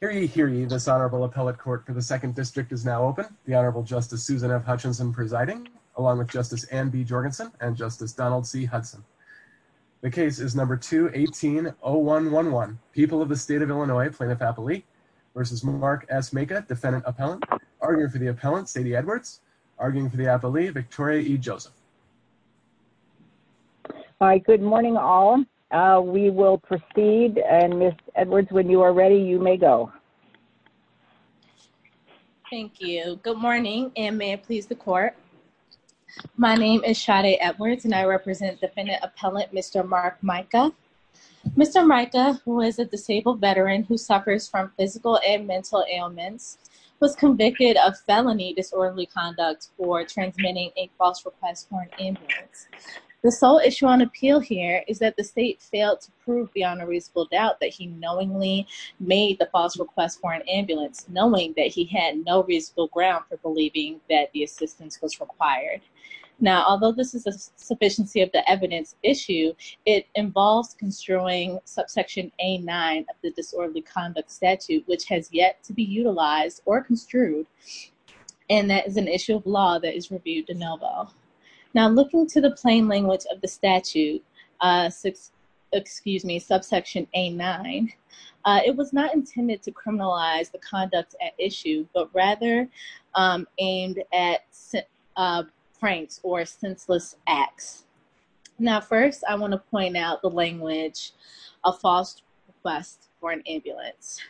Hear ye, hear ye, this Honorable Appellate Court for the 2nd District is now open. The Honorable Justice Susan F. Hutchinson presiding, along with Justice Anne B. Jorgensen and Justice Donald C. Hudson. The case is number 2180111, People of the State of Illinois, Plaintiff-Appellee v. Mark S. Maka, Defendant-Appellant. Arguing for the Appellant, Sadie Edwards. Arguing for the Appellee, Victoria E. Joseph. All right, good morning, all. We will proceed, and Ms. Edwards, when you are ready, you may go. Thank you. Good morning, and may it please the Court. My name is Sadie Edwards, and I represent Defendant-Appellant Mr. Mark Maka. Mr. Maka, who is a disabled veteran who suffers from physical and mental ailments, was convicted of felony disorderly conduct for transmitting a false request for an ambulance. The sole issue on appeal here is that the State failed to prove beyond a reasonable doubt that he knowingly made the false request for an ambulance, knowing that he had no reasonable ground for believing that the assistance was required. Now, although this is a sufficiency of the evidence issue, it involves construing Subsection A-9 of the Disorderly Conduct Statute, which has yet to be utilized or construed, and that is an issue of law that is reviewed de novo. Now, looking to the plain language of the statute, excuse me, Subsection A-9, it was not intended to criminalize the conduct at issue, but rather aimed at pranks or senseless acts. Now, first, I want to point out the language, a false request for an ambulance.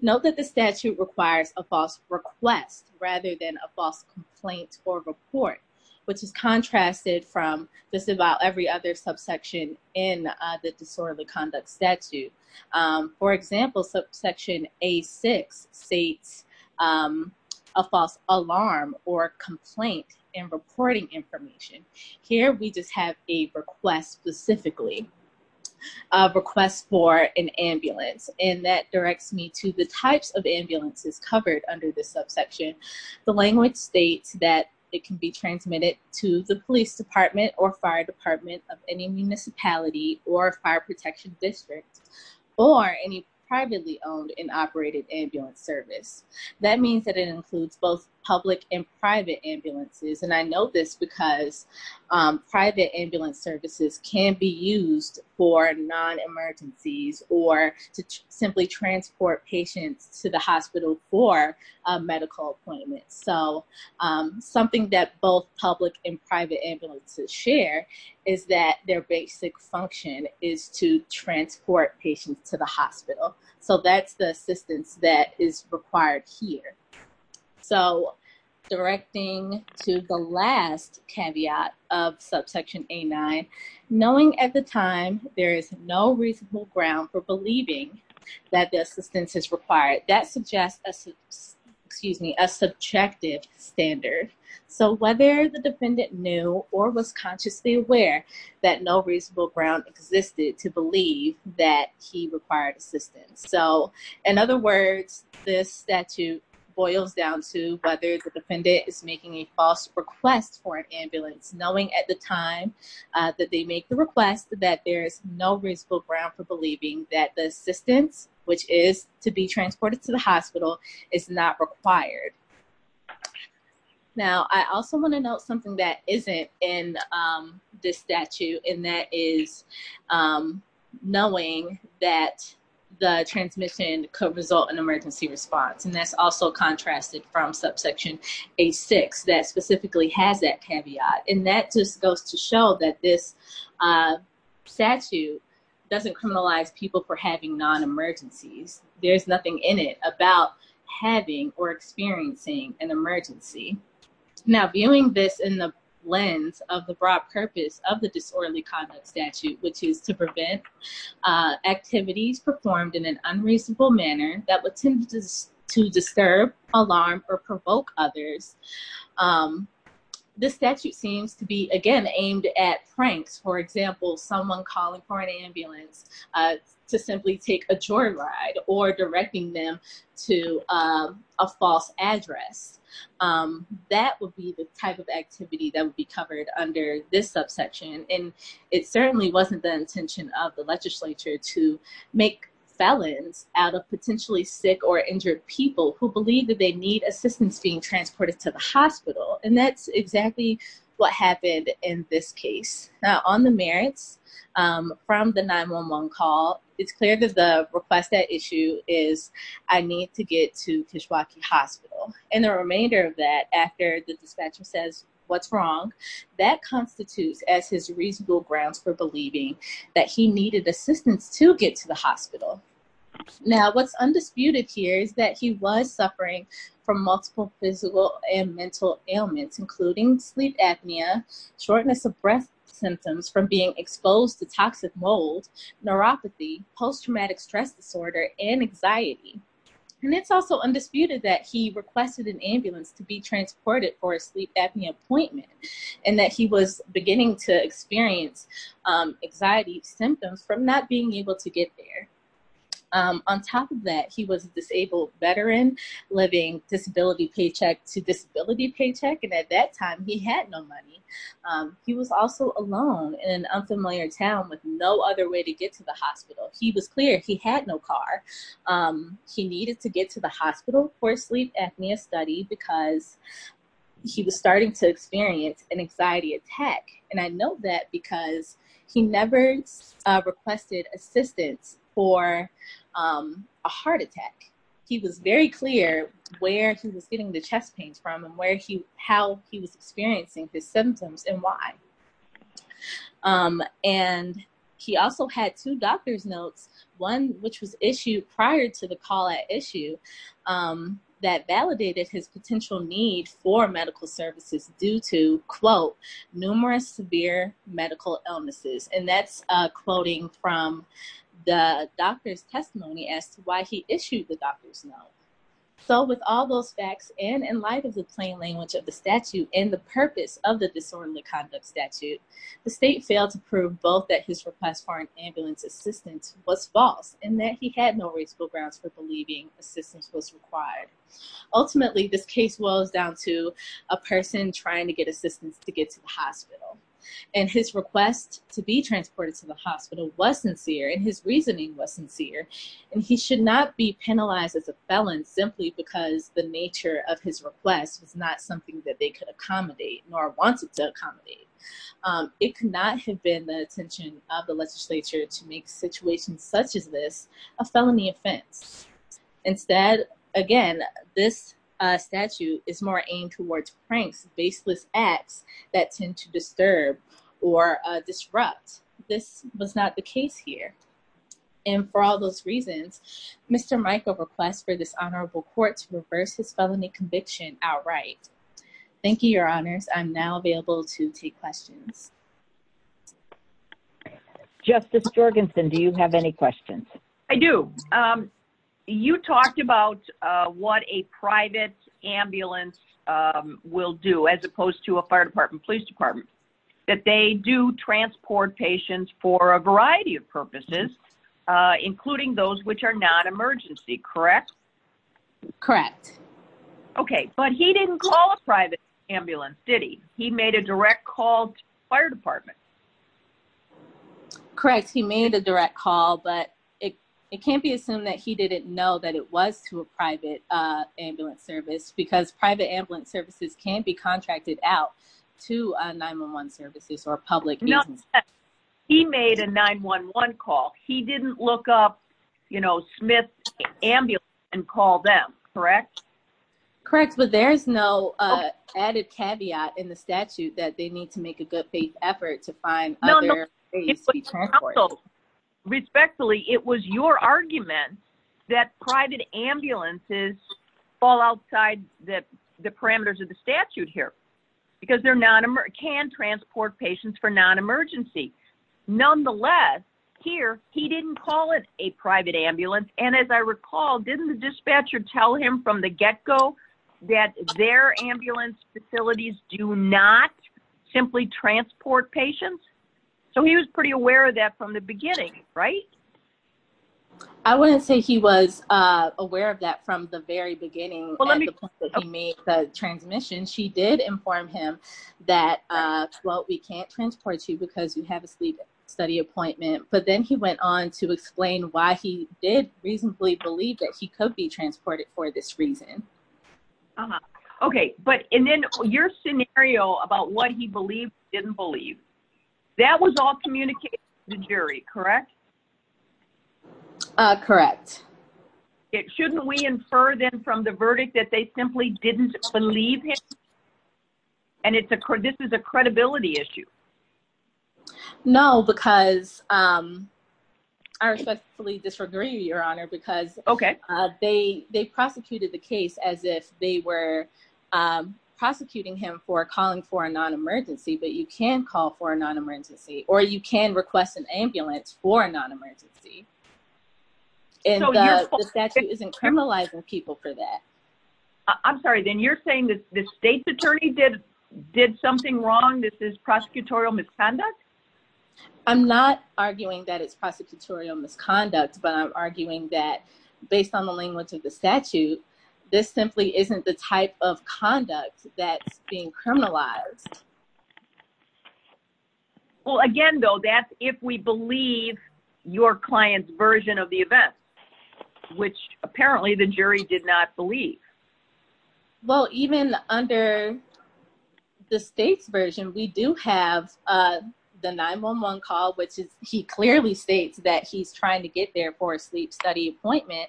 Note that the statute requires a false request rather than a false complaint or report, which is contrasted from just about every other subsection in the Disorderly Conduct Statute. For example, Subsection A-6 states a false alarm or complaint in reporting information. Here, we just have a request specifically, a request for an ambulance, and that directs me to the types of ambulances covered under this subsection. The language states that it can be transmitted to the police department or fire department of any municipality or fire protection district or any privately owned and operated ambulance service. That means that it includes both public and private ambulances, and I know this because private ambulance services can be used for non-emergencies or to simply transport patients to the hospital for a medical appointment. So, something that both public and private ambulances share is that their basic function is to transport patients to the hospital. So that's the assistance that is required here. So, directing to the last caveat of Subsection A-9, knowing at the time there is no reasonable ground for believing that the assistance is required, that suggests a subjective standard. So whether the defendant knew or was consciously aware that no reasonable ground existed to So, in other words, this statute boils down to whether the defendant is making a false request for an ambulance, knowing at the time that they make the request that there is no reasonable ground for believing that the assistance, which is to be transported to the hospital, is not required. Now, I also want to note something that isn't in this statute, and that is knowing that the transmission could result in emergency response, and that's also contrasted from Subsection A-6 that specifically has that caveat. And that just goes to show that this statute doesn't criminalize people for having non-emergencies. There's nothing in it about having or experiencing an emergency. Now, viewing this in the lens of the broad purpose of the disorderly conduct statute, which is to prevent activities performed in an unreasonable manner that would tend to disturb, alarm, or provoke others, this statute seems to be, again, aimed at pranks, for example, someone calling for an ambulance to simply take a joyride or directing them to a false address. That would be the type of activity that would be covered under this subsection, and it certainly wasn't the intention of the legislature to make felons out of potentially sick or injured people who believe that they need assistance being transported to the hospital, and that's exactly what happened in this case. Now, on the merits from the 911 call, it's clear that the request at issue is, I need to get to Kishwaukee Hospital. And the remainder of that, after the dispatcher says, what's wrong, that constitutes as his reasonable grounds for believing that he needed assistance to get to the hospital. Now, what's undisputed here is that he was suffering from multiple physical and mental ailments, including sleep apnea, shortness of breath symptoms from being exposed to toxic mold, neuropathy, post-traumatic stress disorder, and anxiety. And it's also undisputed that he requested an ambulance to be transported for a sleep apnea appointment, and that he was beginning to experience anxiety symptoms from not being able to get there. On top of that, he was a disabled veteran living disability paycheck to disability paycheck, and at that time, he had no money. He was also alone in an unfamiliar town with no other way to get to the hospital. He was clear he had no car. He needed to get to the hospital for a sleep apnea study because he was starting to experience an anxiety attack. And I know that because he never requested assistance for a heart attack. He was very clear where he was getting the chest pains from and how he was experiencing his symptoms and why. And he also had two doctor's notes, one which was issued prior to the call-out issue, that medical illnesses. And that's quoting from the doctor's testimony as to why he issued the doctor's note. So with all those facts and in light of the plain language of the statute and the purpose of the disorderly conduct statute, the state failed to prove both that his request for an ambulance assistance was false and that he had no reasonable grounds for believing assistance was required. Ultimately, this case boils down to a person trying to get assistance to get to the hospital. And his request to be transported to the hospital was sincere and his reasoning was sincere. And he should not be penalized as a felon simply because the nature of his request was not something that they could accommodate nor wanted to accommodate. It could not have been the intention of the legislature to make situations such as this a felony offense. Instead, again, this statute is more aimed towards pranks, baseless acts that tend to or disrupt. This was not the case here. And for all those reasons, Mr. Michael requests for this honorable court to reverse his felony conviction outright. Thank you, your honors. I'm now available to take questions. Justice Jorgensen, do you have any questions? I do. You talked about what a private ambulance will do as opposed to a fire department, police department. That they do transport patients for a variety of purposes, including those which are not emergency, correct? Correct. Okay. But he didn't call a private ambulance, did he? He made a direct call to the fire department. Correct. He made a direct call, but it can't be assumed that he didn't know that it was to a private ambulance service because private ambulance services can be contracted out to 911 services or public. He made a 911 call. He didn't look up, you know, Smith Ambulance and call them, correct? Correct. But there's no added caveat in the statute that they need to make a good faith effort to find other transport. Respectfully, it was your argument that private ambulances fall outside the parameters of the statute here because they're not can transport patients for non-emergency. Nonetheless, here, he didn't call it a private ambulance. And as I recall, didn't the dispatcher tell him from the get-go that their ambulance facilities do not simply transport patients? So he was pretty aware of that from the beginning, right? I wouldn't say he was aware of that from the very beginning. Let me make the transmission. She did inform him that, well, we can't transport you because you have a sleep study appointment. But then he went on to explain why he did reasonably believe that he could be transported for this reason. Okay. And then your scenario about what he believed, didn't believe, that was all communicated to the jury, correct? Correct. Shouldn't we infer then from the verdict that they simply didn't believe him? And this is a credibility issue. No, because I respectfully disagree, Your Honor, because they prosecuted the case as if they were prosecuting him for calling for a non-emergency. But you can call for a non-emergency. Or you can request an ambulance for a non-emergency. And the statute isn't criminalizing people for that. I'm sorry, then you're saying that the state's attorney did something wrong? This is prosecutorial misconduct? I'm not arguing that it's prosecutorial misconduct. But I'm arguing that based on the language of the statute, this simply isn't the type of conduct that's being criminalized. Well, again, though, that's if we believe your client's version of the event, which apparently the jury did not believe. Well, even under the state's version, we do have the 911 call, which he clearly states that he's trying to get there for a sleep study appointment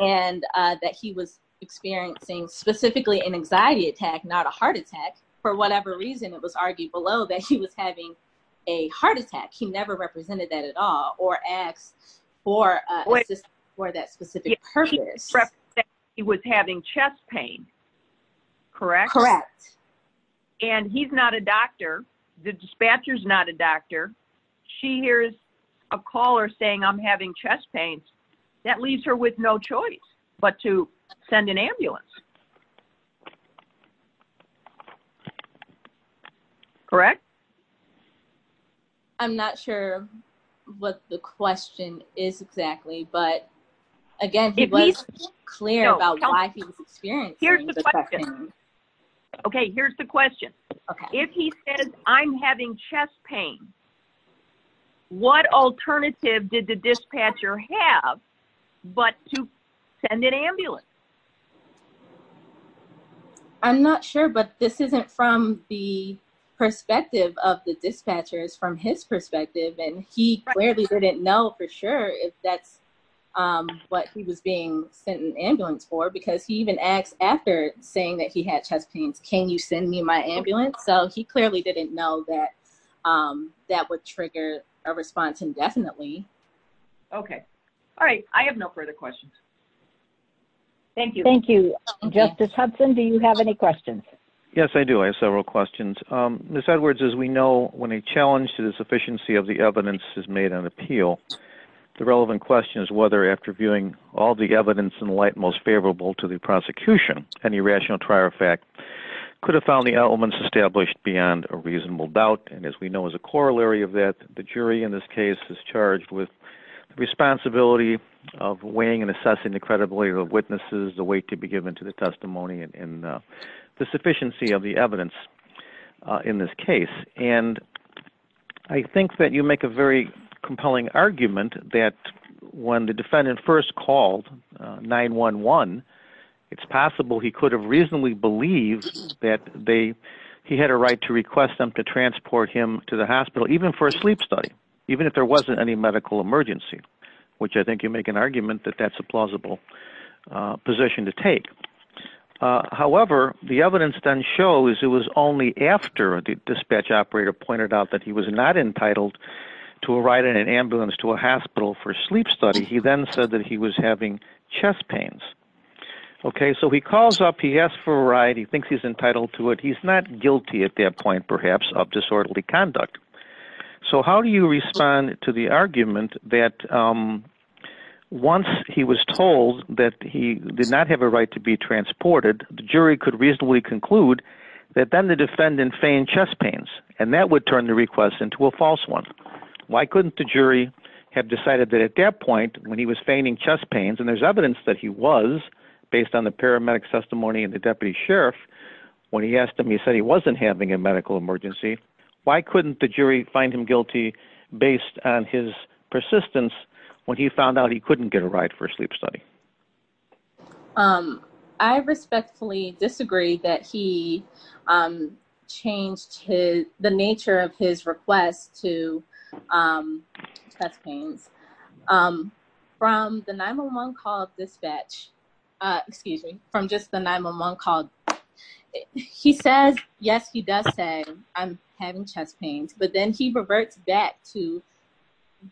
and that he was experiencing specifically an anxiety attack, not a heart attack. For whatever reason, it was argued below that he was having a heart attack. He never represented that at all or asked for assistance for that specific purpose. He was having chest pain, correct? Correct. And he's not a doctor. The dispatcher's not a doctor. She hears a caller saying, I'm having chest pain. That leaves her with no choice but to send an ambulance, correct? I'm not sure what the question is exactly. But again, if he's clear about why he was experiencing the chest pain. OK, here's the question. If he says, I'm having chest pain, what alternative did the dispatcher have but to send an ambulance? I'm not sure. But this isn't from the perspective of the dispatchers, from his perspective. And he clearly didn't know for sure if that's what he was being sent an ambulance for. Because he even asked after saying that he had chest pains, can you send me my ambulance? So he clearly didn't know that that would trigger a response indefinitely. OK, all right. I have no further questions. Thank you. Thank you. Justice Hudson, do you have any questions? Yes, I do. I have several questions. Ms. Edwards, as we know, when a challenge to the sufficiency of the evidence is made on appeal, the relevant question is whether, after viewing all the evidence in light most favorable to the prosecution, any rational trier fact could have found the elements established beyond a reasonable doubt. And as we know, as a corollary of that, the jury in this case is charged with the responsibility of weighing and assessing the credibility of the witnesses, the weight to be given to the testimony, and the sufficiency of the evidence in this case. And I think that you make a very compelling argument that when the defendant first called 911, it's possible he could have reasonably believed that he had a right to request them to transport him to the hospital, even for a sleep study, even if there wasn't any medical emergency, which I think you make an argument that that's a plausible position to take. However, the evidence then shows it was only after the dispatch operator pointed out that he was not entitled to a ride in an ambulance to a hospital for a sleep study. He then said that he was having chest pains. Okay, so he calls up, he asks for a ride, he thinks he's entitled to it. He's not guilty at that point, perhaps, of disorderly conduct. So how do you respond to the argument that once he was told that he did not have a right to be transported, the jury could reasonably conclude that then the defendant feigned chest pains, and that would turn the request into a false one? Why couldn't the jury have decided that at that point, when he was feigning chest pains, and there's evidence that he was, based on the paramedic testimony and the deputy sheriff, when he asked him, he said he wasn't having a medical emergency, why couldn't the jury find him guilty based on his persistence when he found out he couldn't get a ride for a sleep study? I respectfully disagree that he changed the nature of his request to chest pains. From the 911 call dispatch, excuse me, from just the 911 call, he says, yes, he does say I'm having chest pains, but then he reverts back to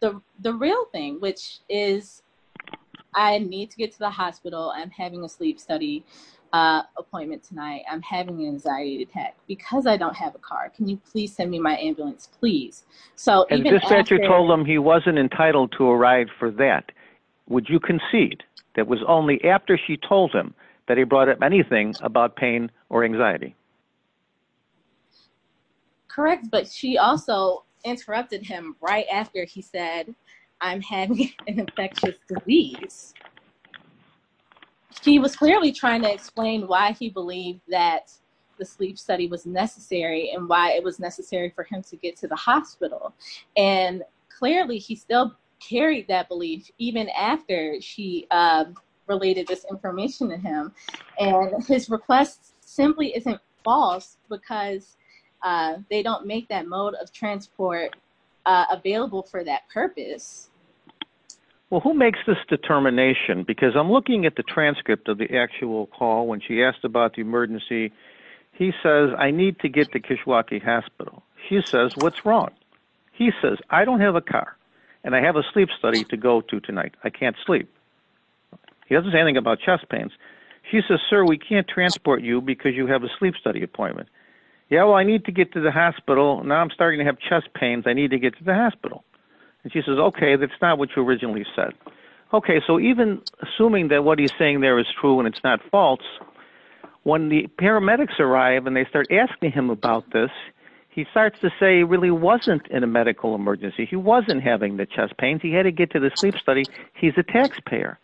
the real thing, which is I need to get to the hospital, I'm having a sleep study appointment tonight, I'm having an anxiety attack, because I don't have a car, can you please send me my ambulance, please? And the dispatcher told him he wasn't entitled to a ride for that. Would you concede that it was only after she told him that he brought up anything about pain or anxiety? Correct, but she also interrupted him right after he said, I'm having an infectious disease. He was clearly trying to explain why he believed that the sleep study was necessary and why it was necessary for him to get to the hospital. And clearly, he still carried that belief, even after she related this information to him. And his request simply isn't false, because they don't make that mode of transport available for that purpose. Well, who makes this determination? Because I'm looking at the transcript of the actual call when she asked about the emergency. He says, I need to get to Kishwaukee Hospital. She says, what's wrong? He says, I don't have a car and I have a sleep study to go to tonight. I can't sleep. He doesn't say anything about chest pains. She says, sir, we can't transport you because you have a sleep study appointment. Yeah, well, I need to get to the hospital. Now I'm starting to have chest pains. I need to get to the hospital. And she says, OK, that's not what you originally said. OK, so even assuming that what he's saying there is true and it's not false, when the paramedics arrive and they start asking him about this, he starts to say he really wasn't in a medical emergency. He wasn't having the chest pains. He had to get to the sleep study. He's a taxpayer.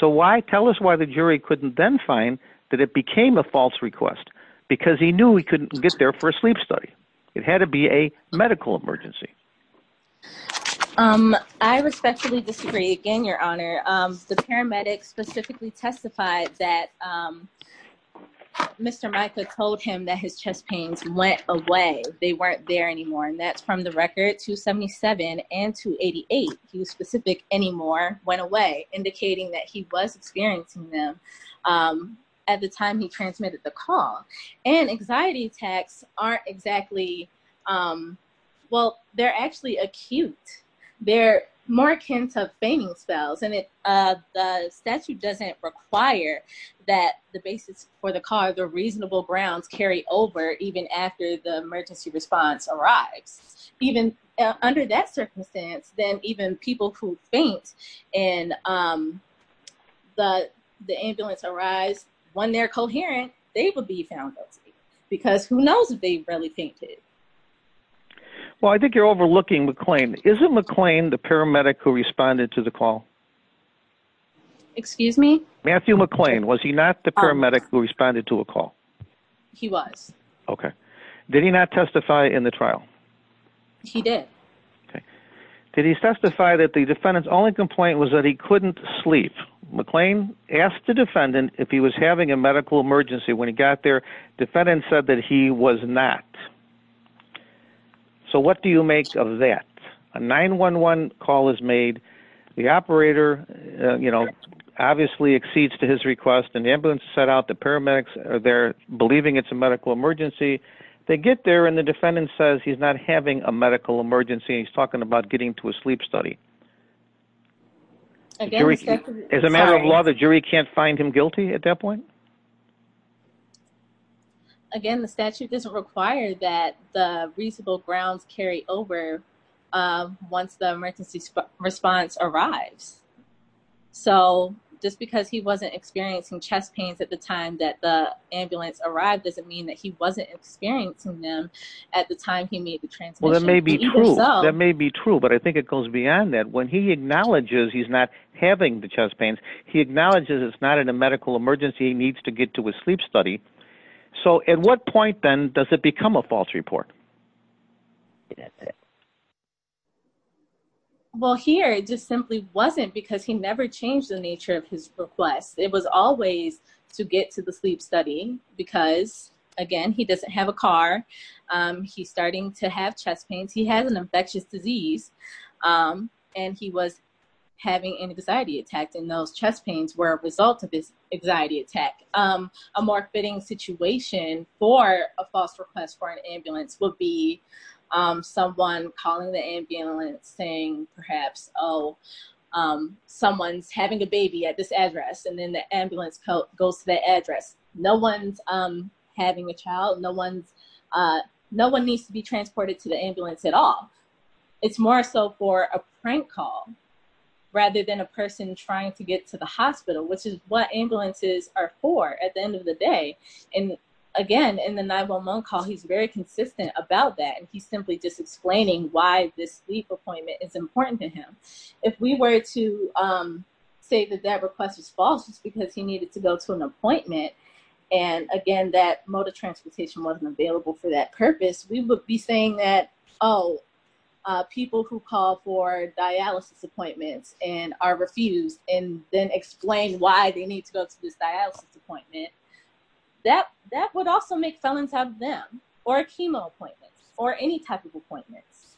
So why? Tell us why the jury couldn't then find that it became a false request, because he knew he couldn't get there for a sleep study. It had to be a medical emergency. Um, I respectfully disagree. Again, Your Honor, the paramedics specifically testified that Mr. Micah told him that his chest pains went away. They weren't there anymore. And that's from the record 277 and 288. He was specific. Anymore went away, indicating that he was experiencing them at the time he transmitted the call. And anxiety attacks aren't exactly, um, well, they're actually acute. They're more akin to fainting spells, and the statute doesn't require that the basis for the car, the reasonable grounds, carry over even after the emergency response arrives. Even under that circumstance, then even people who faint and the ambulance arrives, when they're coherent, they will be found guilty because who knows if they really fainted. Well, I think you're overlooking McClain. Isn't McClain the paramedic who responded to the call? Excuse me? Matthew McClain. Was he not the paramedic who responded to a call? He was. Okay. Did he not testify in the trial? He did. Did he testify that the defendant's only complaint was that he couldn't sleep? McClain asked the defendant if he was having a medical emergency. When he got there, defendant said that he was not. So what do you make of that? A 911 call is made. The operator, you know, obviously accedes to his request, and the ambulance set out the paramedics are there believing it's a medical emergency. They get there, and the defendant says he's not having a medical emergency. He's talking about getting to a sleep study. As a matter of law, the jury can't find him guilty at that point? Again, the statute doesn't require that the reasonable grounds carry over once the emergency response arrives. So just because he wasn't experiencing chest pains at the time that the ambulance arrived doesn't mean that he wasn't experiencing them at the time he made the transmission. Well, that may be true. That may be true, but I think it goes beyond that. When he acknowledges he's not having the chest pains, he acknowledges it's not in a medical emergency. He needs to get to a sleep study. So at what point, then, does it become a false report? That's it. Well, here it just simply wasn't because he never changed the nature of his request. It was always to get to the sleep study because, again, he doesn't have a car. He's starting to have chest pains. He has an infectious disease. He was having an anxiety attack, and those chest pains were a result of this anxiety attack. A more fitting situation for a false request for an ambulance would be someone calling the ambulance saying, perhaps, oh, someone's having a baby at this address, and then the ambulance goes to that address. No one's having a child. No one needs to be transported to the ambulance at all. It's more so for a prank call rather than a person trying to get to the hospital, which is what ambulances are for at the end of the day. Again, in the 911 call, he's very consistent about that, and he's simply just explaining why this sleep appointment is important to him. If we were to say that that request was false, it's because he needed to go to an appointment and, again, that mode of transportation wasn't available for that purpose, we would be saying that, oh, people who call for dialysis appointments and are refused and then explain why they need to go to this dialysis appointment, that would also make felons out of them or chemo appointments or any type of appointments.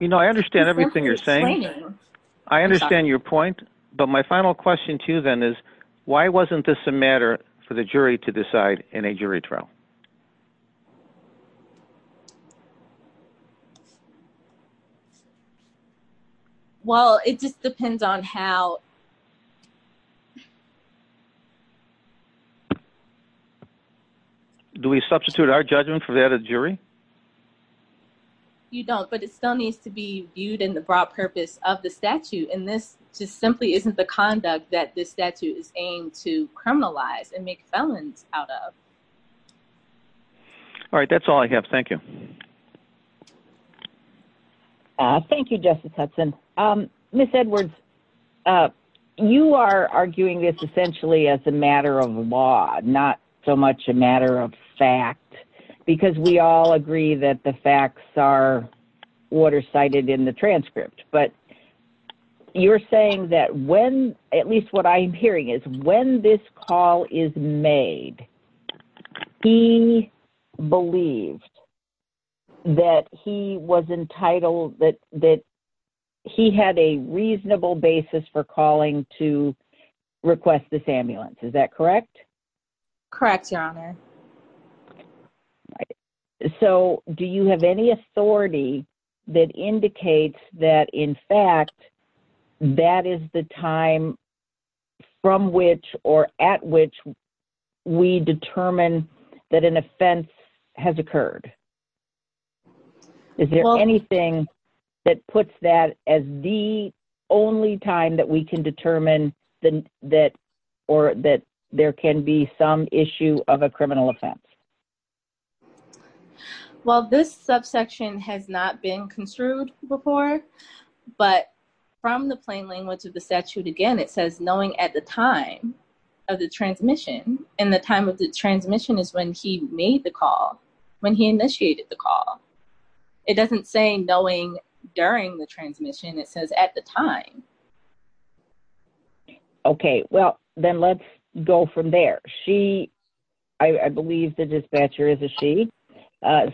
You know, I understand everything you're saying. I understand your point, but my final question to you, then, is why wasn't this a matter for the jury to decide in a jury trial? Well, it just depends on how. Do we substitute our judgment for that of the jury? You don't, but it still needs to be viewed in the broad purpose of the statute, and this just simply isn't the conduct that this statute is aimed to criminalize and make felons out of. All right, that's all I have. Thank you. Thank you. Thank you. Thank you. Thank you, Justice Hudson. Ms. Edwards, you are arguing this essentially as a matter of law, not so much a matter of fact, because we all agree that the facts are what are cited in the transcript, but you're saying that when, at least what I'm hearing, is when this call is made, he believes that he was entitled, that he had a reasonable basis for calling to request this ambulance. Is that correct? Correct, Your Honor. So, do you have any authority that indicates that, in fact, that is the time from which or at which we determine that an offense has occurred? Well… Is there anything that puts that as the only time that we can determine that there can be some issue of a criminal offense? Well, this subsection has not been construed before, but from the plain language of the statute, again, it says, knowing at the time of the transmission, and the time of the call. It doesn't say knowing during the transmission. It says at the time. Okay. Well, then let's go from there. She, I believe the dispatcher is a she,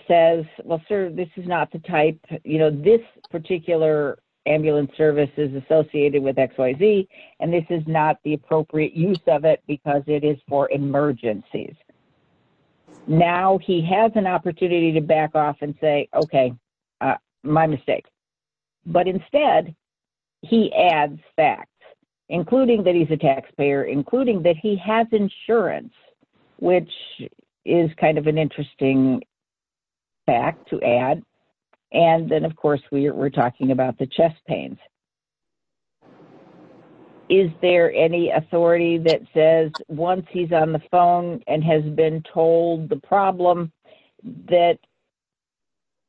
says, well, sir, this is not the type, you know, this particular ambulance service is associated with XYZ, and this is not the appropriate use of it because it is for emergencies. Now, he has an opportunity to back off and say, okay, my mistake. But instead, he adds facts, including that he's a taxpayer, including that he has insurance, which is kind of an interesting fact to add. And then, of course, we're talking about the chest pains. But is there any authority that says once he's on the phone and has been told the problem, that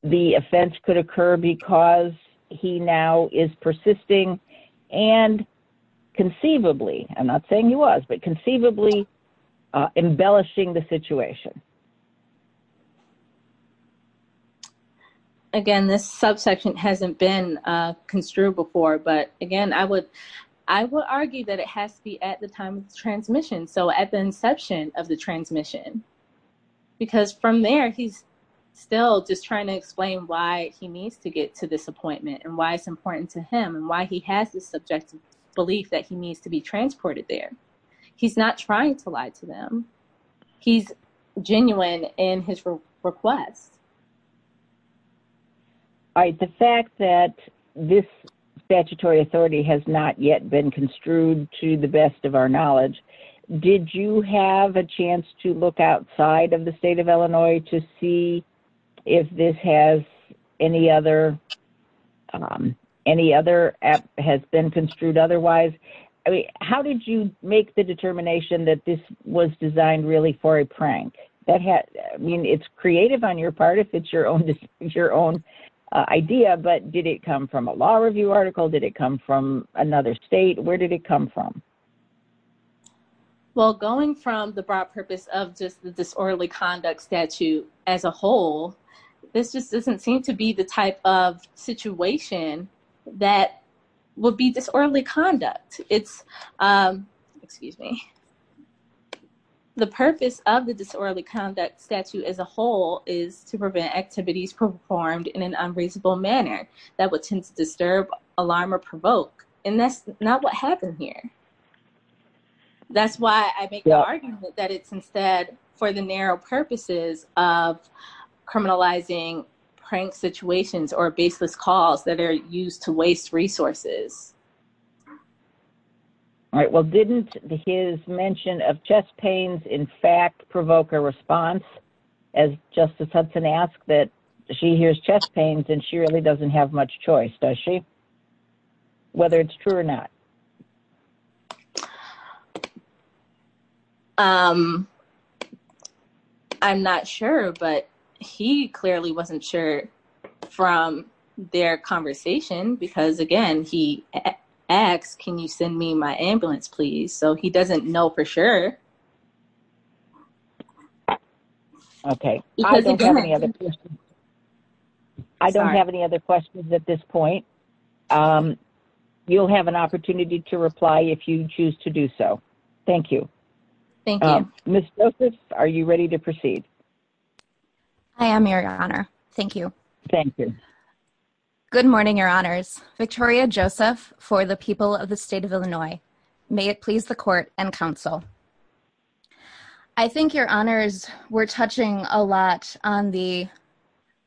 the offense could occur because he now is persisting and conceivably, I'm not saying he was, but conceivably embellishing the situation? Again, this subsection hasn't been construed before. But again, I would argue that it has to be at the time of the transmission. So at the inception of the transmission. Because from there, he's still just trying to explain why he needs to get to this appointment and why it's important to him and why he has this subjective belief that he needs to be transported there. He's not trying to lie to them. He's genuine in his request. All right. The fact that this statutory authority has not yet been construed, to the best of our knowledge, did you have a chance to look outside of the state of Illinois to see if this has any other has been construed otherwise? How did you make the determination that this was designed really for a prank? It's creative on your part if it's your own idea. But did it come from a law review article? Did it come from another state? Where did it come from? Well, going from the broad purpose of just the disorderly conduct statute as a whole, this just doesn't seem to be the type of situation that would be disorderly conduct. It's, excuse me, the purpose of the disorderly conduct statute as a whole is to prevent activities performed in an unreasonable manner that would tend to disturb, alarm, or provoke. And that's not what happened here. That's why I make the argument that it's instead for the narrow purposes of criminalizing prank situations or baseless calls that are used to waste resources. All right. Well, didn't his mention of chest pains, in fact, provoke a response as Justice Hudson asked that she hears chest pains and she really doesn't have much choice, does she? Whether it's true or not. I'm not sure, but he clearly wasn't sure from their conversation because, again, he asked, can you send me my ambulance, please? So he doesn't know for sure. Okay. I don't have any other questions at this point. You'll have an opportunity to reply if you choose to do so. Thank you. Thank you. Ms. Joseph, are you ready to proceed? I am, Your Honor. Thank you. Thank you. Good morning, Your Honors. Victoria Joseph for the people of the State of Illinois. May it please the Court and Counsel. I think, Your Honors, we're touching a lot on the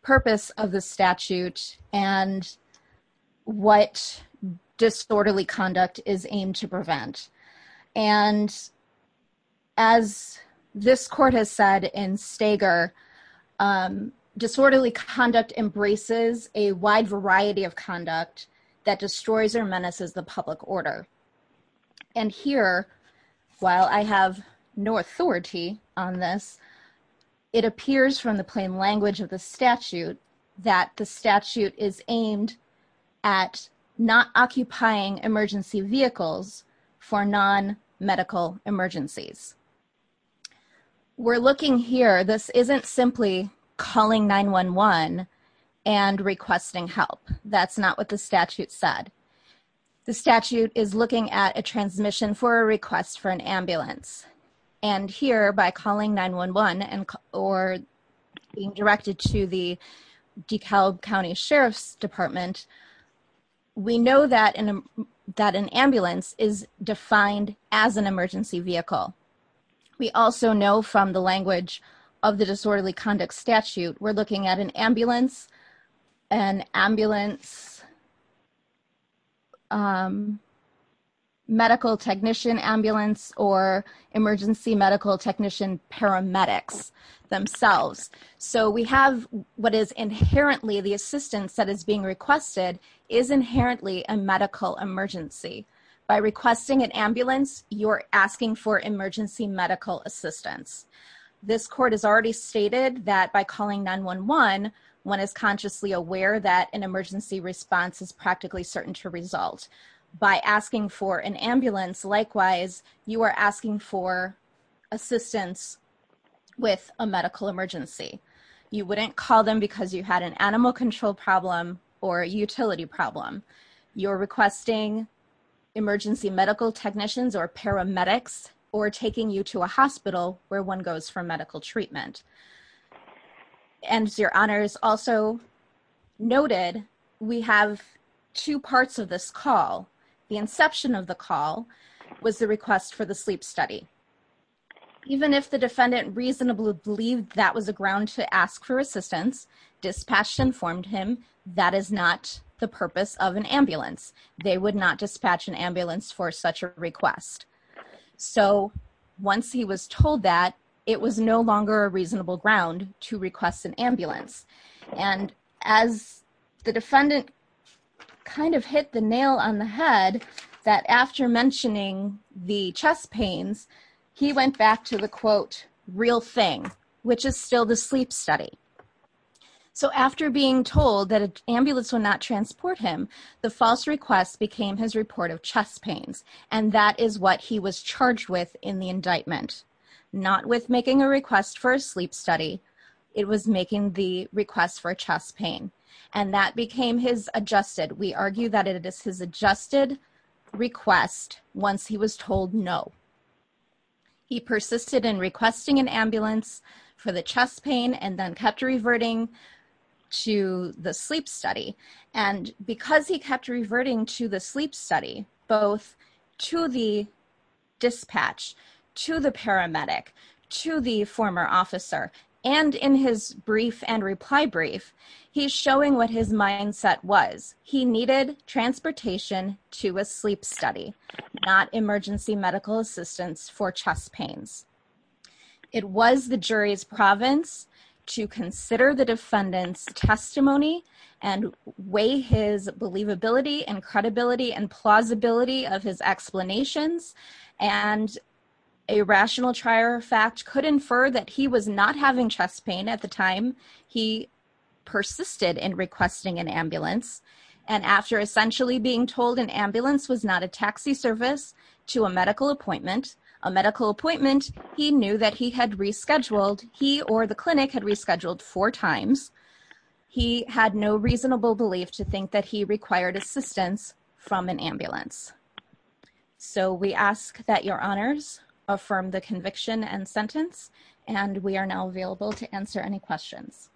purpose of the statute and what disorderly conduct is aimed to prevent. And as this Court has said in Stager, disorderly conduct embraces a wide variety of conduct that destroys or menaces the public order. And here, while I have no authority on this, it appears from the plain language of the statute that the statute is aimed at not occupying emergency vehicles for non-medical emergencies. We're looking here. This isn't simply calling 911 and requesting help. That's not what the statute said. The statute is looking at a transmission for a request for an ambulance. And here, by calling 911 or being directed to the DeKalb County Sheriff's Department, we know that an ambulance is defined as an emergency vehicle. We also know from the language of the disorderly conduct statute, we're looking at an ambulance, an ambulance, medical technician ambulance, or emergency medical technician paramedics themselves. So we have what is inherently the assistance that is being requested is inherently a medical emergency. By requesting an ambulance, you're asking for emergency medical assistance. This court has already stated that by calling 911, one is consciously aware that an emergency response is practically certain to result. By asking for an ambulance, likewise, you are asking for assistance with a medical emergency. You wouldn't call them because you had an animal control problem or a utility problem. You're requesting emergency medical technicians or paramedics or taking you to a hospital where one goes for medical treatment. And your honors also noted we have two parts of this call. The inception of the call was the request for the sleep study. Even if the defendant reasonably believed that was a ground to ask for assistance, dispatched informed him that is not the purpose of an ambulance. They would not dispatch an ambulance for such a request. So once he was told that, it was no longer a reasonable ground to request an ambulance. And as the defendant kind of hit the nail on the head that after mentioning the chest pains, he went back to the quote, real thing, which is still the sleep study. So after being told that an ambulance would not transport him, the false request became his report of chest pains. And that is what he was charged with in the indictment. Not with making a request for a sleep study. It was making the request for chest pain. And that became his adjusted, we argue that it is his adjusted request once he was told no. He persisted in requesting an ambulance for the chest pain and then kept reverting to the sleep study. And because he kept reverting to the sleep study, both to the dispatch, to the paramedic, to the former officer, and in his brief and reply brief, he's showing what his mindset was. He needed transportation to a sleep study, not emergency medical assistance for chest pains. It was the jury's province to consider the defendant's testimony and weigh his believability and credibility and plausibility of his explanations. And a rational trier of fact could infer that he was not having chest pain at the time he persisted in requesting an ambulance. And after essentially being told an ambulance was not a taxi service to a medical appointment, a medical appointment, he knew that he had rescheduled, he or the clinic had rescheduled four times. He had no reasonable belief to think that he required assistance from an ambulance. So we ask that your honors affirm the conviction and sentence. And we are now available to answer any questions.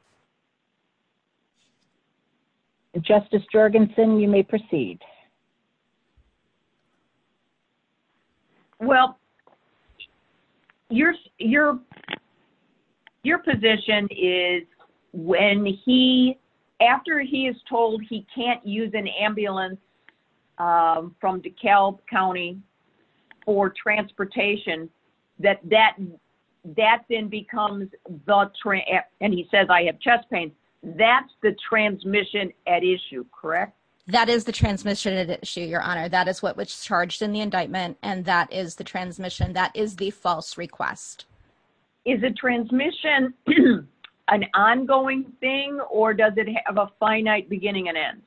Justice Jorgensen, you may proceed. Well, your position is when he, after he is told he can't use an ambulance from DeKalb County for transportation, that then becomes the, and he says I have chest pain, that's the transmission at issue, correct? That is the transmission at issue. That is what was charged in the indictment and that is the transmission. That is the false request. Is the transmission an ongoing thing or does it have a finite beginning and end?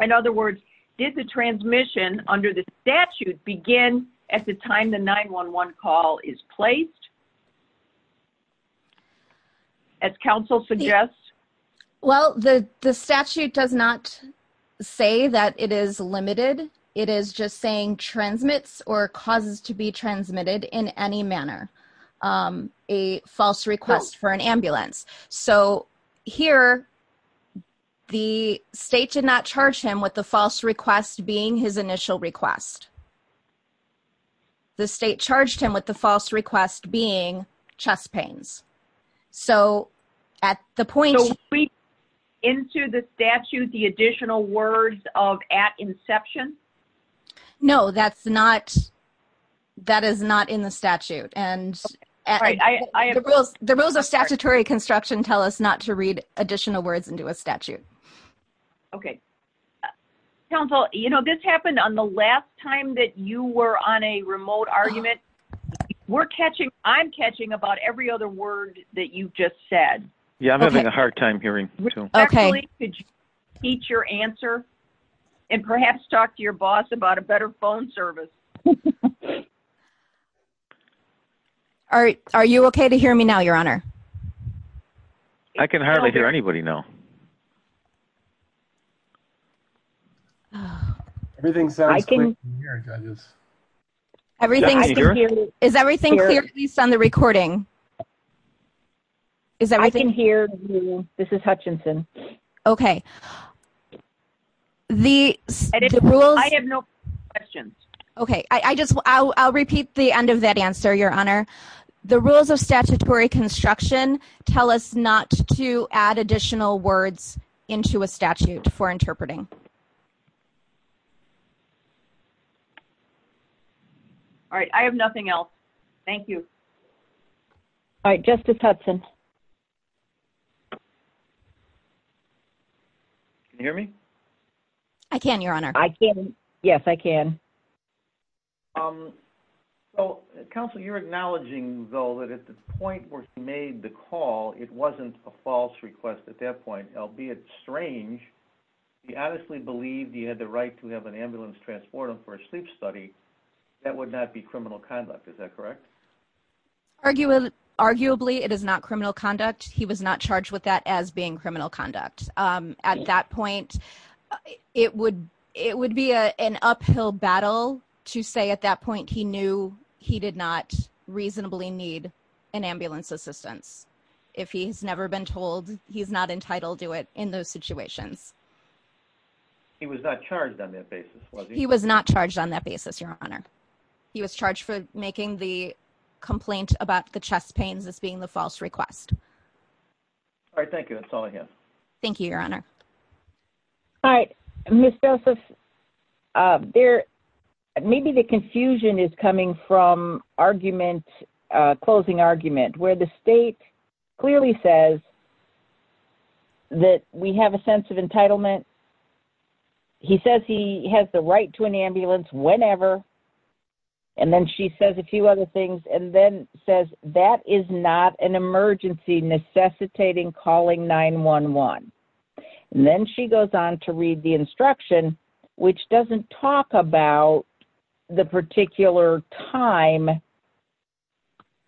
In other words, did the transmission under the statute begin at the time the 911 call is placed? As counsel suggests? Well, the statute does not say that it is limited. It is just saying transmits or causes to be transmitted in any manner, a false request for an ambulance. So here, the state did not charge him with the false request being his initial request. The state charged him with the false request being chest pains. So at the point... So we, into the statute, the additional words of at inception? No, that's not, that is not in the statute. And the rules of statutory construction tell us not to read additional words into a statute. Okay. Counsel, you know, this happened on the last time that you were on a remote argument. We're catching, I'm catching about every other word that you just said. Yeah, I'm having a hard time hearing too. Actually, could you teach your answer and perhaps talk to your boss about a better phone service? All right. Are you okay to hear me now, your honor? I can hardly hear anybody now. Everything sounds clear to me here, judges. Everything, is everything clear at least on the recording? Is everything... I can hear you. This is Hutchinson. Okay. The rules... I have no questions. Okay. I just, I'll repeat the end of that answer, your honor. The rules of statutory construction tell us not to add additional words into a statute for interpreting. All right. I have nothing else. Thank you. All right. Justice Hudson. Can you hear me? I can, your honor. I can. Yes, I can. So counsel, you're acknowledging though that at the point where she made the call, it wasn't a false request at that point. Albeit strange, she honestly believed he had the right to have an ambulance transport him for a sleep study, that would not be criminal conduct. Is that correct? Arguably, it is not criminal conduct. He was not charged with that as being criminal conduct. At that point, it would be an uphill battle to say at that point he knew he did not reasonably need an ambulance assistance. If he's never been told, he's not entitled to it in those situations. He was not charged on that basis, was he? He was not charged on that basis, your honor. He was charged for making the complaint about the chest pains as being the false request. All right. Thank you. That's all I have. Thank you, your honor. All right. Ms. Joseph, maybe the confusion is coming from argument, closing argument, where the state clearly says that we have a sense of entitlement. He says he has the right to an ambulance whenever, and then she says a few other things, and then says that is not an emergency necessitating calling 911. Then she goes on to read the instruction, which doesn't talk about the particular time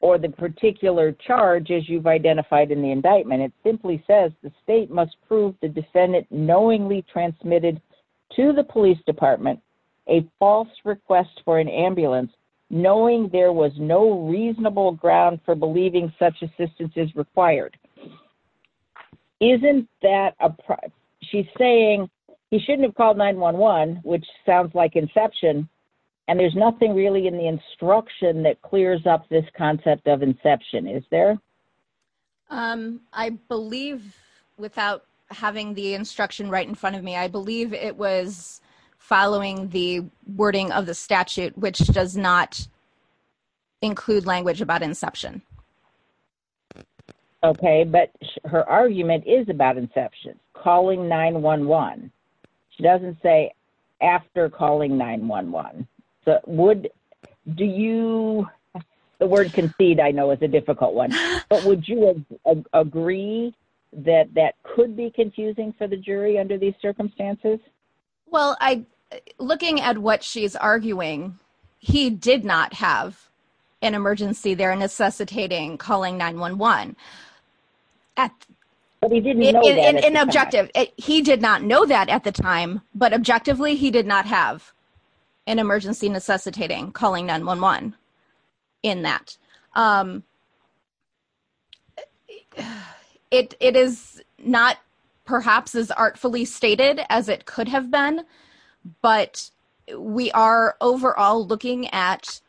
or the particular charge, as you've identified in the indictment. It simply says the state must prove the defendant knowingly transmitted to the police department a false request for an ambulance, knowing there was no reasonable ground for believing such assistance is required. Isn't that a she's saying he shouldn't have called 911, which sounds like inception, and there's nothing really in the instruction that clears up this concept of inception, is there? I believe, without having the instruction right in front of me, I believe it was following the wording of the statute, which does not include language about inception. Okay, but her argument is about inception, calling 911. She doesn't say after calling 911. Do you, the word concede I know is a difficult one, but would you agree that that could be confusing for the jury under these circumstances? Well, looking at what she's arguing, he did not have an emergency there necessitating calling 911. At an objective, he did not know that at the time, but objectively, he did not have an emergency necessitating calling 911. In that it is not perhaps as artfully stated as it could have been, but we are overall looking at,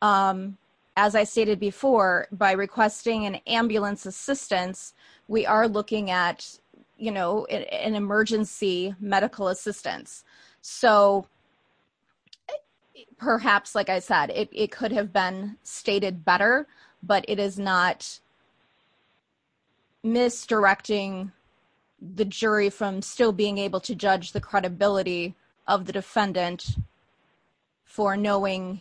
um, as I stated before, by requesting an ambulance assistance, we are looking at, you know, an emergency medical assistance. So perhaps, like I said, it could have been stated better, but it is not misdirecting the jury from still being able to judge the credibility of the defendant for knowing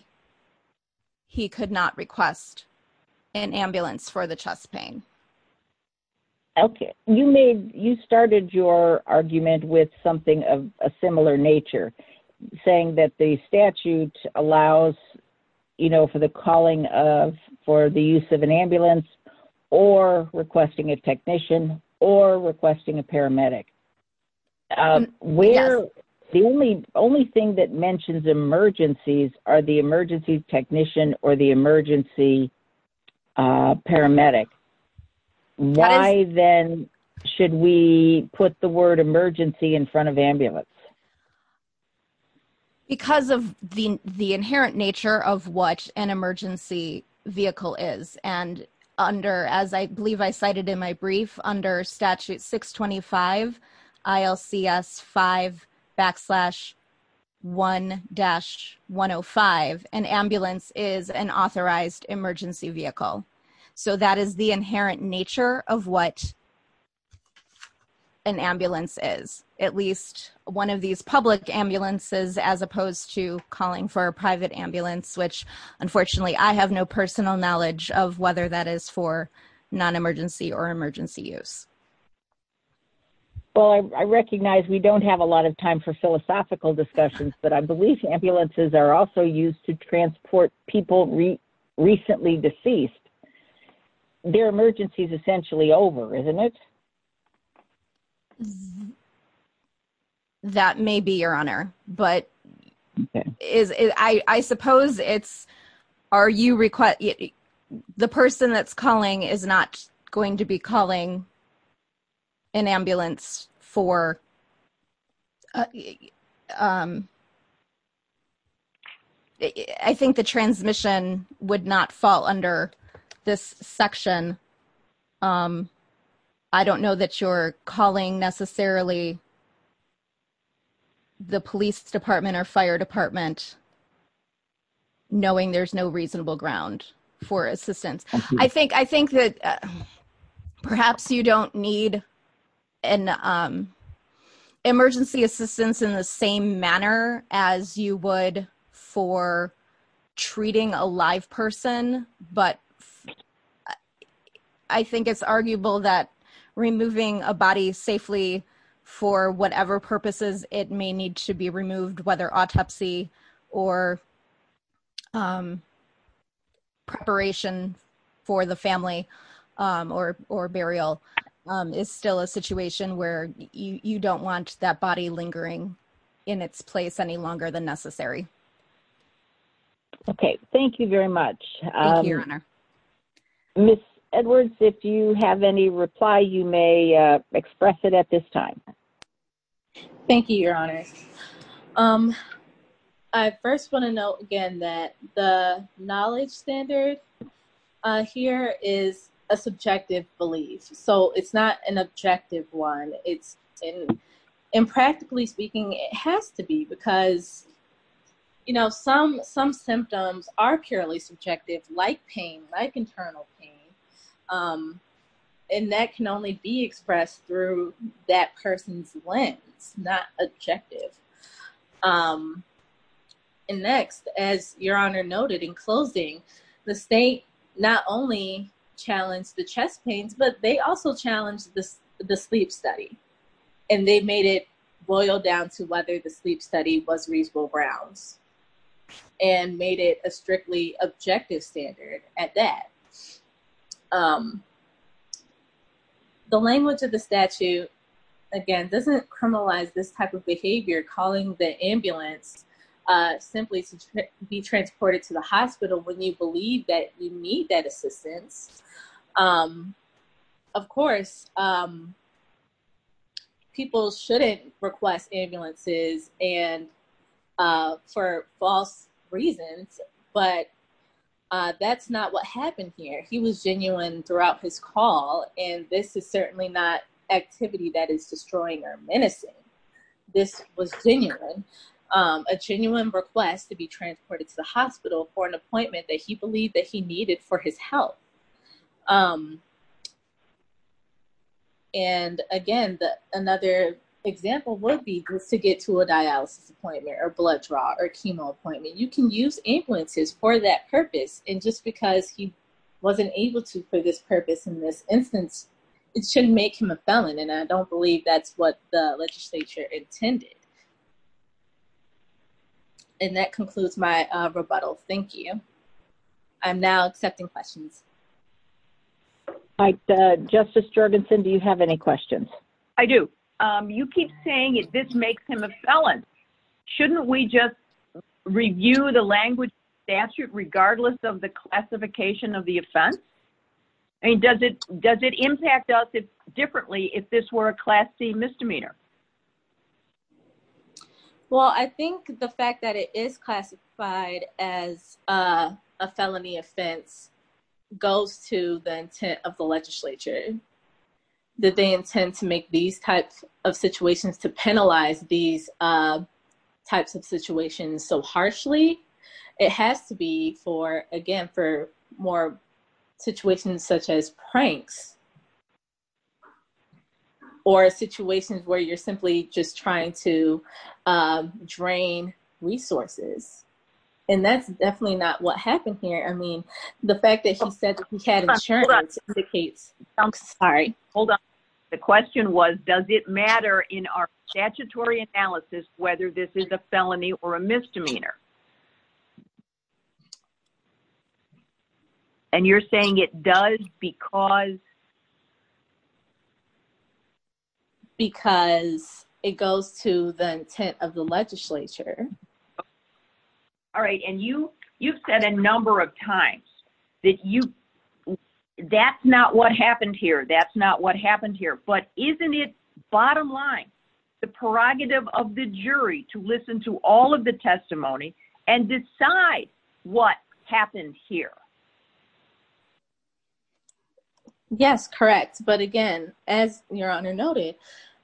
he could not request an ambulance for the chest pain. Okay, you made, you started your argument with something of a similar nature, saying that the statute allows, you know, for the calling of, for the use of an ambulance, or requesting a technician, or requesting a paramedic. Um, where, the only, only thing that mentions emergencies are the emergency technician, or the emergency paramedic. Why then should we put the word emergency in front of ambulance? Because of the, the inherent nature of what an emergency vehicle is, and under, as I believe I cited in my brief, under statute 625 ILCS 5 backslash 1-105, an ambulance is an authorized emergency vehicle. So that is the inherent nature of what an ambulance is, at least one of these public ambulances, as opposed to calling for a private ambulance, which unfortunately I have no personal knowledge of whether that is for non-emergency or emergency use. Well, I recognize we don't have a lot of time for philosophical discussions, but I believe ambulances are also used to transport people recently deceased. Their emergency is essentially over, isn't it? Um, that may be your honor, but is, I, I suppose it's, are you reques- the person that's calling is not going to be calling an ambulance for, um, I think the transmission would not fall under this section. Um, I don't know that you're calling necessarily the police department or fire department knowing there's no reasonable ground for assistance. I think, I think that perhaps you don't need an, um, emergency assistance in the same manner as you would for treating a live person, but I think it's arguable that removing a body safely for whatever purposes it may need to be removed, whether autopsy or, um, preparation for the family, um, or, or burial, um, is still a situation where you, you don't want that body lingering in its place any longer than necessary. Okay. Thank you very much. Um, Miss Edwards, if you have any reply, you may, uh, express it at this time. Thank you, your honor. Um, I first want to note again that the knowledge standard, uh, here is a subjective belief, so it's not an objective one. It's, and practically speaking, it has to be because, you know, some, some symptoms are purely subjective like pain, like internal pain, um, and that can only be expressed through that person's lens, not objective. Um, and next, as your honor noted in closing, the state not only challenged the chest pains, but they also challenged this, the sleep study, and they made it boil down to whether the sleep study was reasonable grounds and made it a strictly objective standard at that. Um, the language of the statute, again, doesn't criminalize this type of behavior, calling the ambulance, uh, simply to be transported to the hospital when you believe that you need that assistance. Um, of course, um, people shouldn't request ambulances and, uh, for false reasons, but, uh, that's not what happened here. He was genuine throughout his call, and this is certainly not activity that is destroying or menacing. This was genuine, um, a genuine request to be transported to the hospital for an appointment that he believed that he needed for his health. Um, and again, the, another example would be to get to a dialysis appointment or blood draw or for that purpose, and just because he wasn't able to for this purpose in this instance, it shouldn't make him a felon, and I don't believe that's what the legislature intended. And that concludes my, uh, rebuttal. Thank you. I'm now accepting questions. All right, uh, Justice Jorgensen, do you have any questions? I do. Um, you keep saying this makes him a felon. Shouldn't we just review the language regardless of the classification of the offense? I mean, does it, does it impact us differently if this were a Class C misdemeanor? Well, I think the fact that it is classified as, uh, a felony offense goes to the intent of the legislature that they intend to make these types of situations, to penalize these, uh, types of situations so harshly. It has to be for, again, for more situations such as pranks or situations where you're simply just trying to, um, drain resources. And that's definitely not what happened here. I mean, the fact that he said that he had insurance indicates, I'm sorry. Hold on. The question was, does it matter in our statutory analysis whether this is a felony or a misdemeanor? And you're saying it does because? Because it goes to the intent of the legislature. All right. And you, you've said a number of times that you, that's not what happened here. That's not what happened here, but isn't it bottom line, the prerogative of the jury to listen to all of the testimony and decide what happened here? Yes, correct. But again, as your honor noted,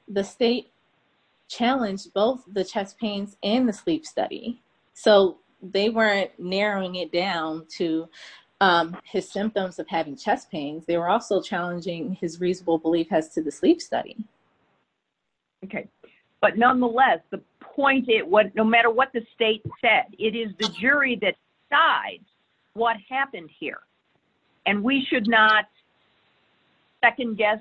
the state challenged both the chest pains and the sleep study. So they weren't narrowing it down to, um, his symptoms of having chest pains. They were also challenging his reasonable belief has to the sleep study. Okay. But nonetheless, the point is what, no matter what the state said, it is the jury that decides what happened here. And we should not second guess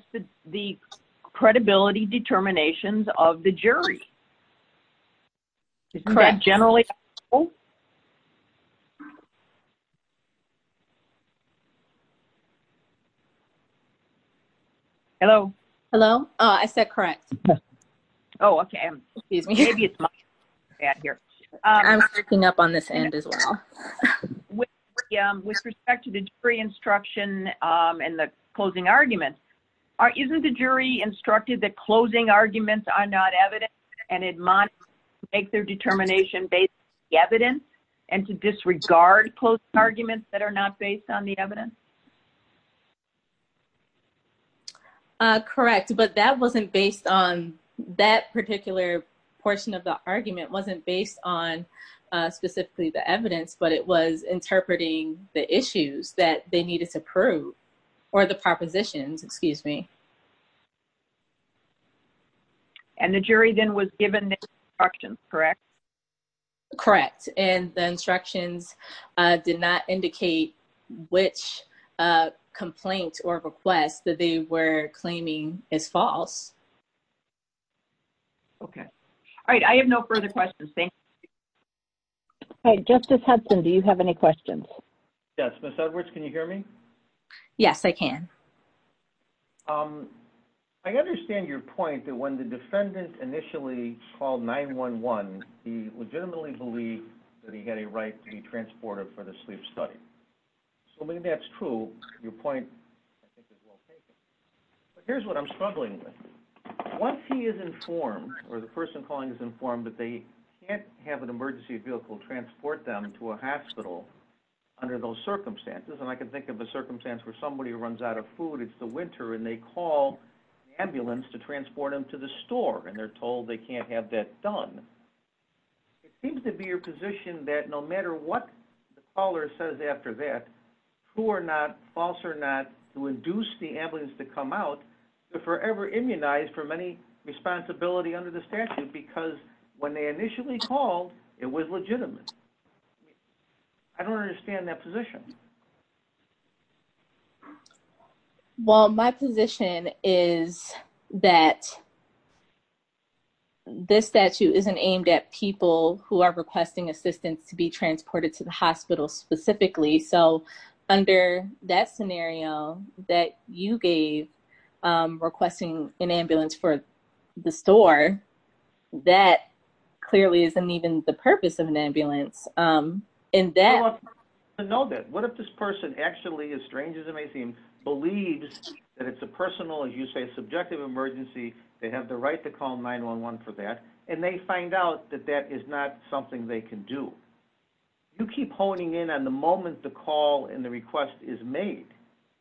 the credibility determinations of the jury. Hello. Hello. I said, correct. Oh, okay. Excuse me. Maybe it's my bad here. I'm picking up on this end as well. Yeah. With respect to the jury instruction, um, and the closing arguments are, isn't the jury instructed that closing arguments are not evidence and it might make their determination based evidence and to disregard closing arguments that are not based on the evidence. Uh, correct. But that wasn't based on that particular portion of the argument wasn't based on, uh, specifically the evidence, but it was interpreting the issues that they needed to prove or the propositions, excuse me. And the jury then was given the instructions, correct? Correct. And the instructions, uh, did not indicate which, uh, complaint or request that they were claiming is false. Okay. All right. I have no further questions. Thanks. Okay. Justice Hudson, do you have any questions? Yes. Ms. Edwards, can you hear me? Yes, I can. Um, I understand your point that when the defendant initially called 911, he legitimately believed that he had a right to be transported for the sleep study. So maybe that's true. Your point, I think is well taken. But here's what I'm struggling with. Once he is informed or the person calling is informed that they can't have an emergency vehicle transport them to a hospital under those circumstances. And I can think of a circumstance where somebody runs out of food, it's the winter and they call the ambulance to transport them to the store and they're told they can't have that done. It seems to be your position that no matter what the caller says after that, who are not false or not to induce the ambulance to come out, they're forever immunized from any responsibility under the statute because when they initially called, it was legitimate. I don't understand that position. Well, my position is that this statute isn't aimed at people who are requesting assistance to be transported to the hospital specifically. So under that scenario that you gave, requesting an ambulance for the store, that clearly isn't even the purpose of an ambulance. And that... I don't know that. What if this person actually, as strange as it may seem, believes that it's a personal, as you say, subjective emergency, they have the right to call 911 for that, and they find out that that is not something they can do. You keep honing in on the moment the call and the request is made.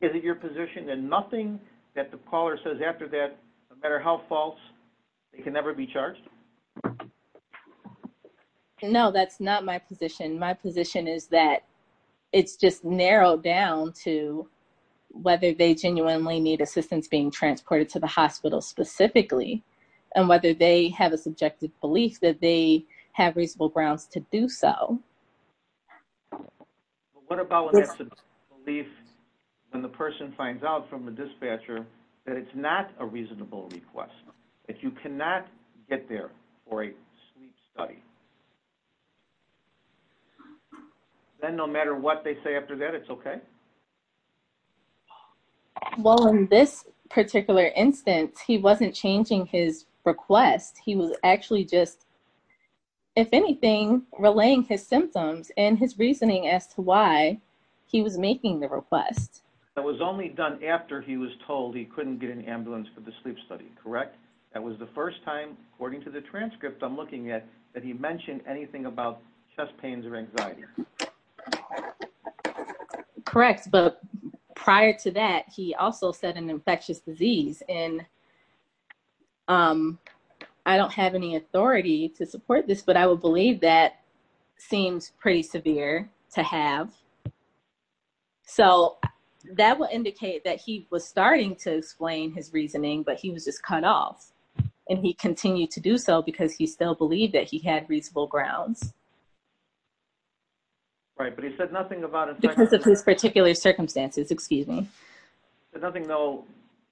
Is it your position that nothing that the caller says after that, no matter how false, they can never be charged? No, that's not my position. My position is that it's just narrowed down to whether they genuinely need assistance being transported to the hospital specifically, and whether they have a subjective belief that they have reasonable grounds to do so. But what about when that belief, when the person finds out from the dispatcher that it's not a reasonable request, that you cannot get there for a sleep study? Then no matter what they say after that, it's okay? Well, in this particular instance, he wasn't changing his request. He was actually just, if anything, relaying his symptoms and his reasoning as to why he was making the request. That was only done after he was told he couldn't get an ambulance for the sleep study, correct? That was the first time, according to the transcript I'm looking at, that he mentioned anything about chest pains or anxiety. Correct, but prior to that, he also said an infectious disease, and I don't have any authority to support this, but I would believe that seems pretty severe to have. Okay. So that would indicate that he was starting to explain his reasoning, but he was just cut off, and he continued to do so because he still believed that he had reasonable grounds. Right, but he said nothing about- Because of his particular circumstances, excuse me. He said nothing, though,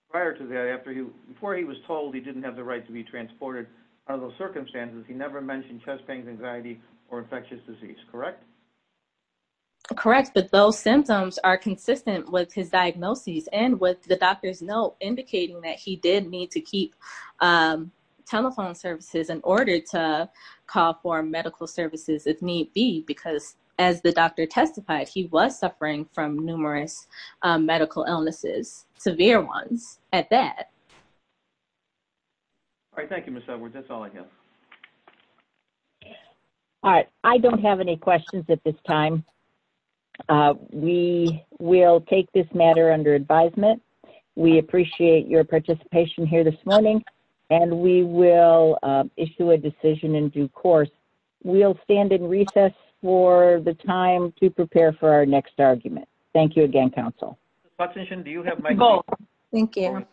prior to that, before he was told he didn't have the right to be transported under those circumstances, he never mentioned chest pains, anxiety, or infectious disease, correct? Correct, but those symptoms are consistent with his diagnoses and with the doctor's note indicating that he did need to keep telephone services in order to call for medical services, if need be, because as the doctor testified, he was suffering from numerous medical illnesses, severe ones, at that. All right, thank you, Ms. Edwards. That's all I have. All right, I don't have any questions at this time. We will take this matter under advisement. We appreciate your participation here this morning, and we will issue a decision in due course. We'll stand in recess for the time to prepare for our next argument. Thank you again, counsel. Ms. Watson-Shin, do you have- Oh, thank you.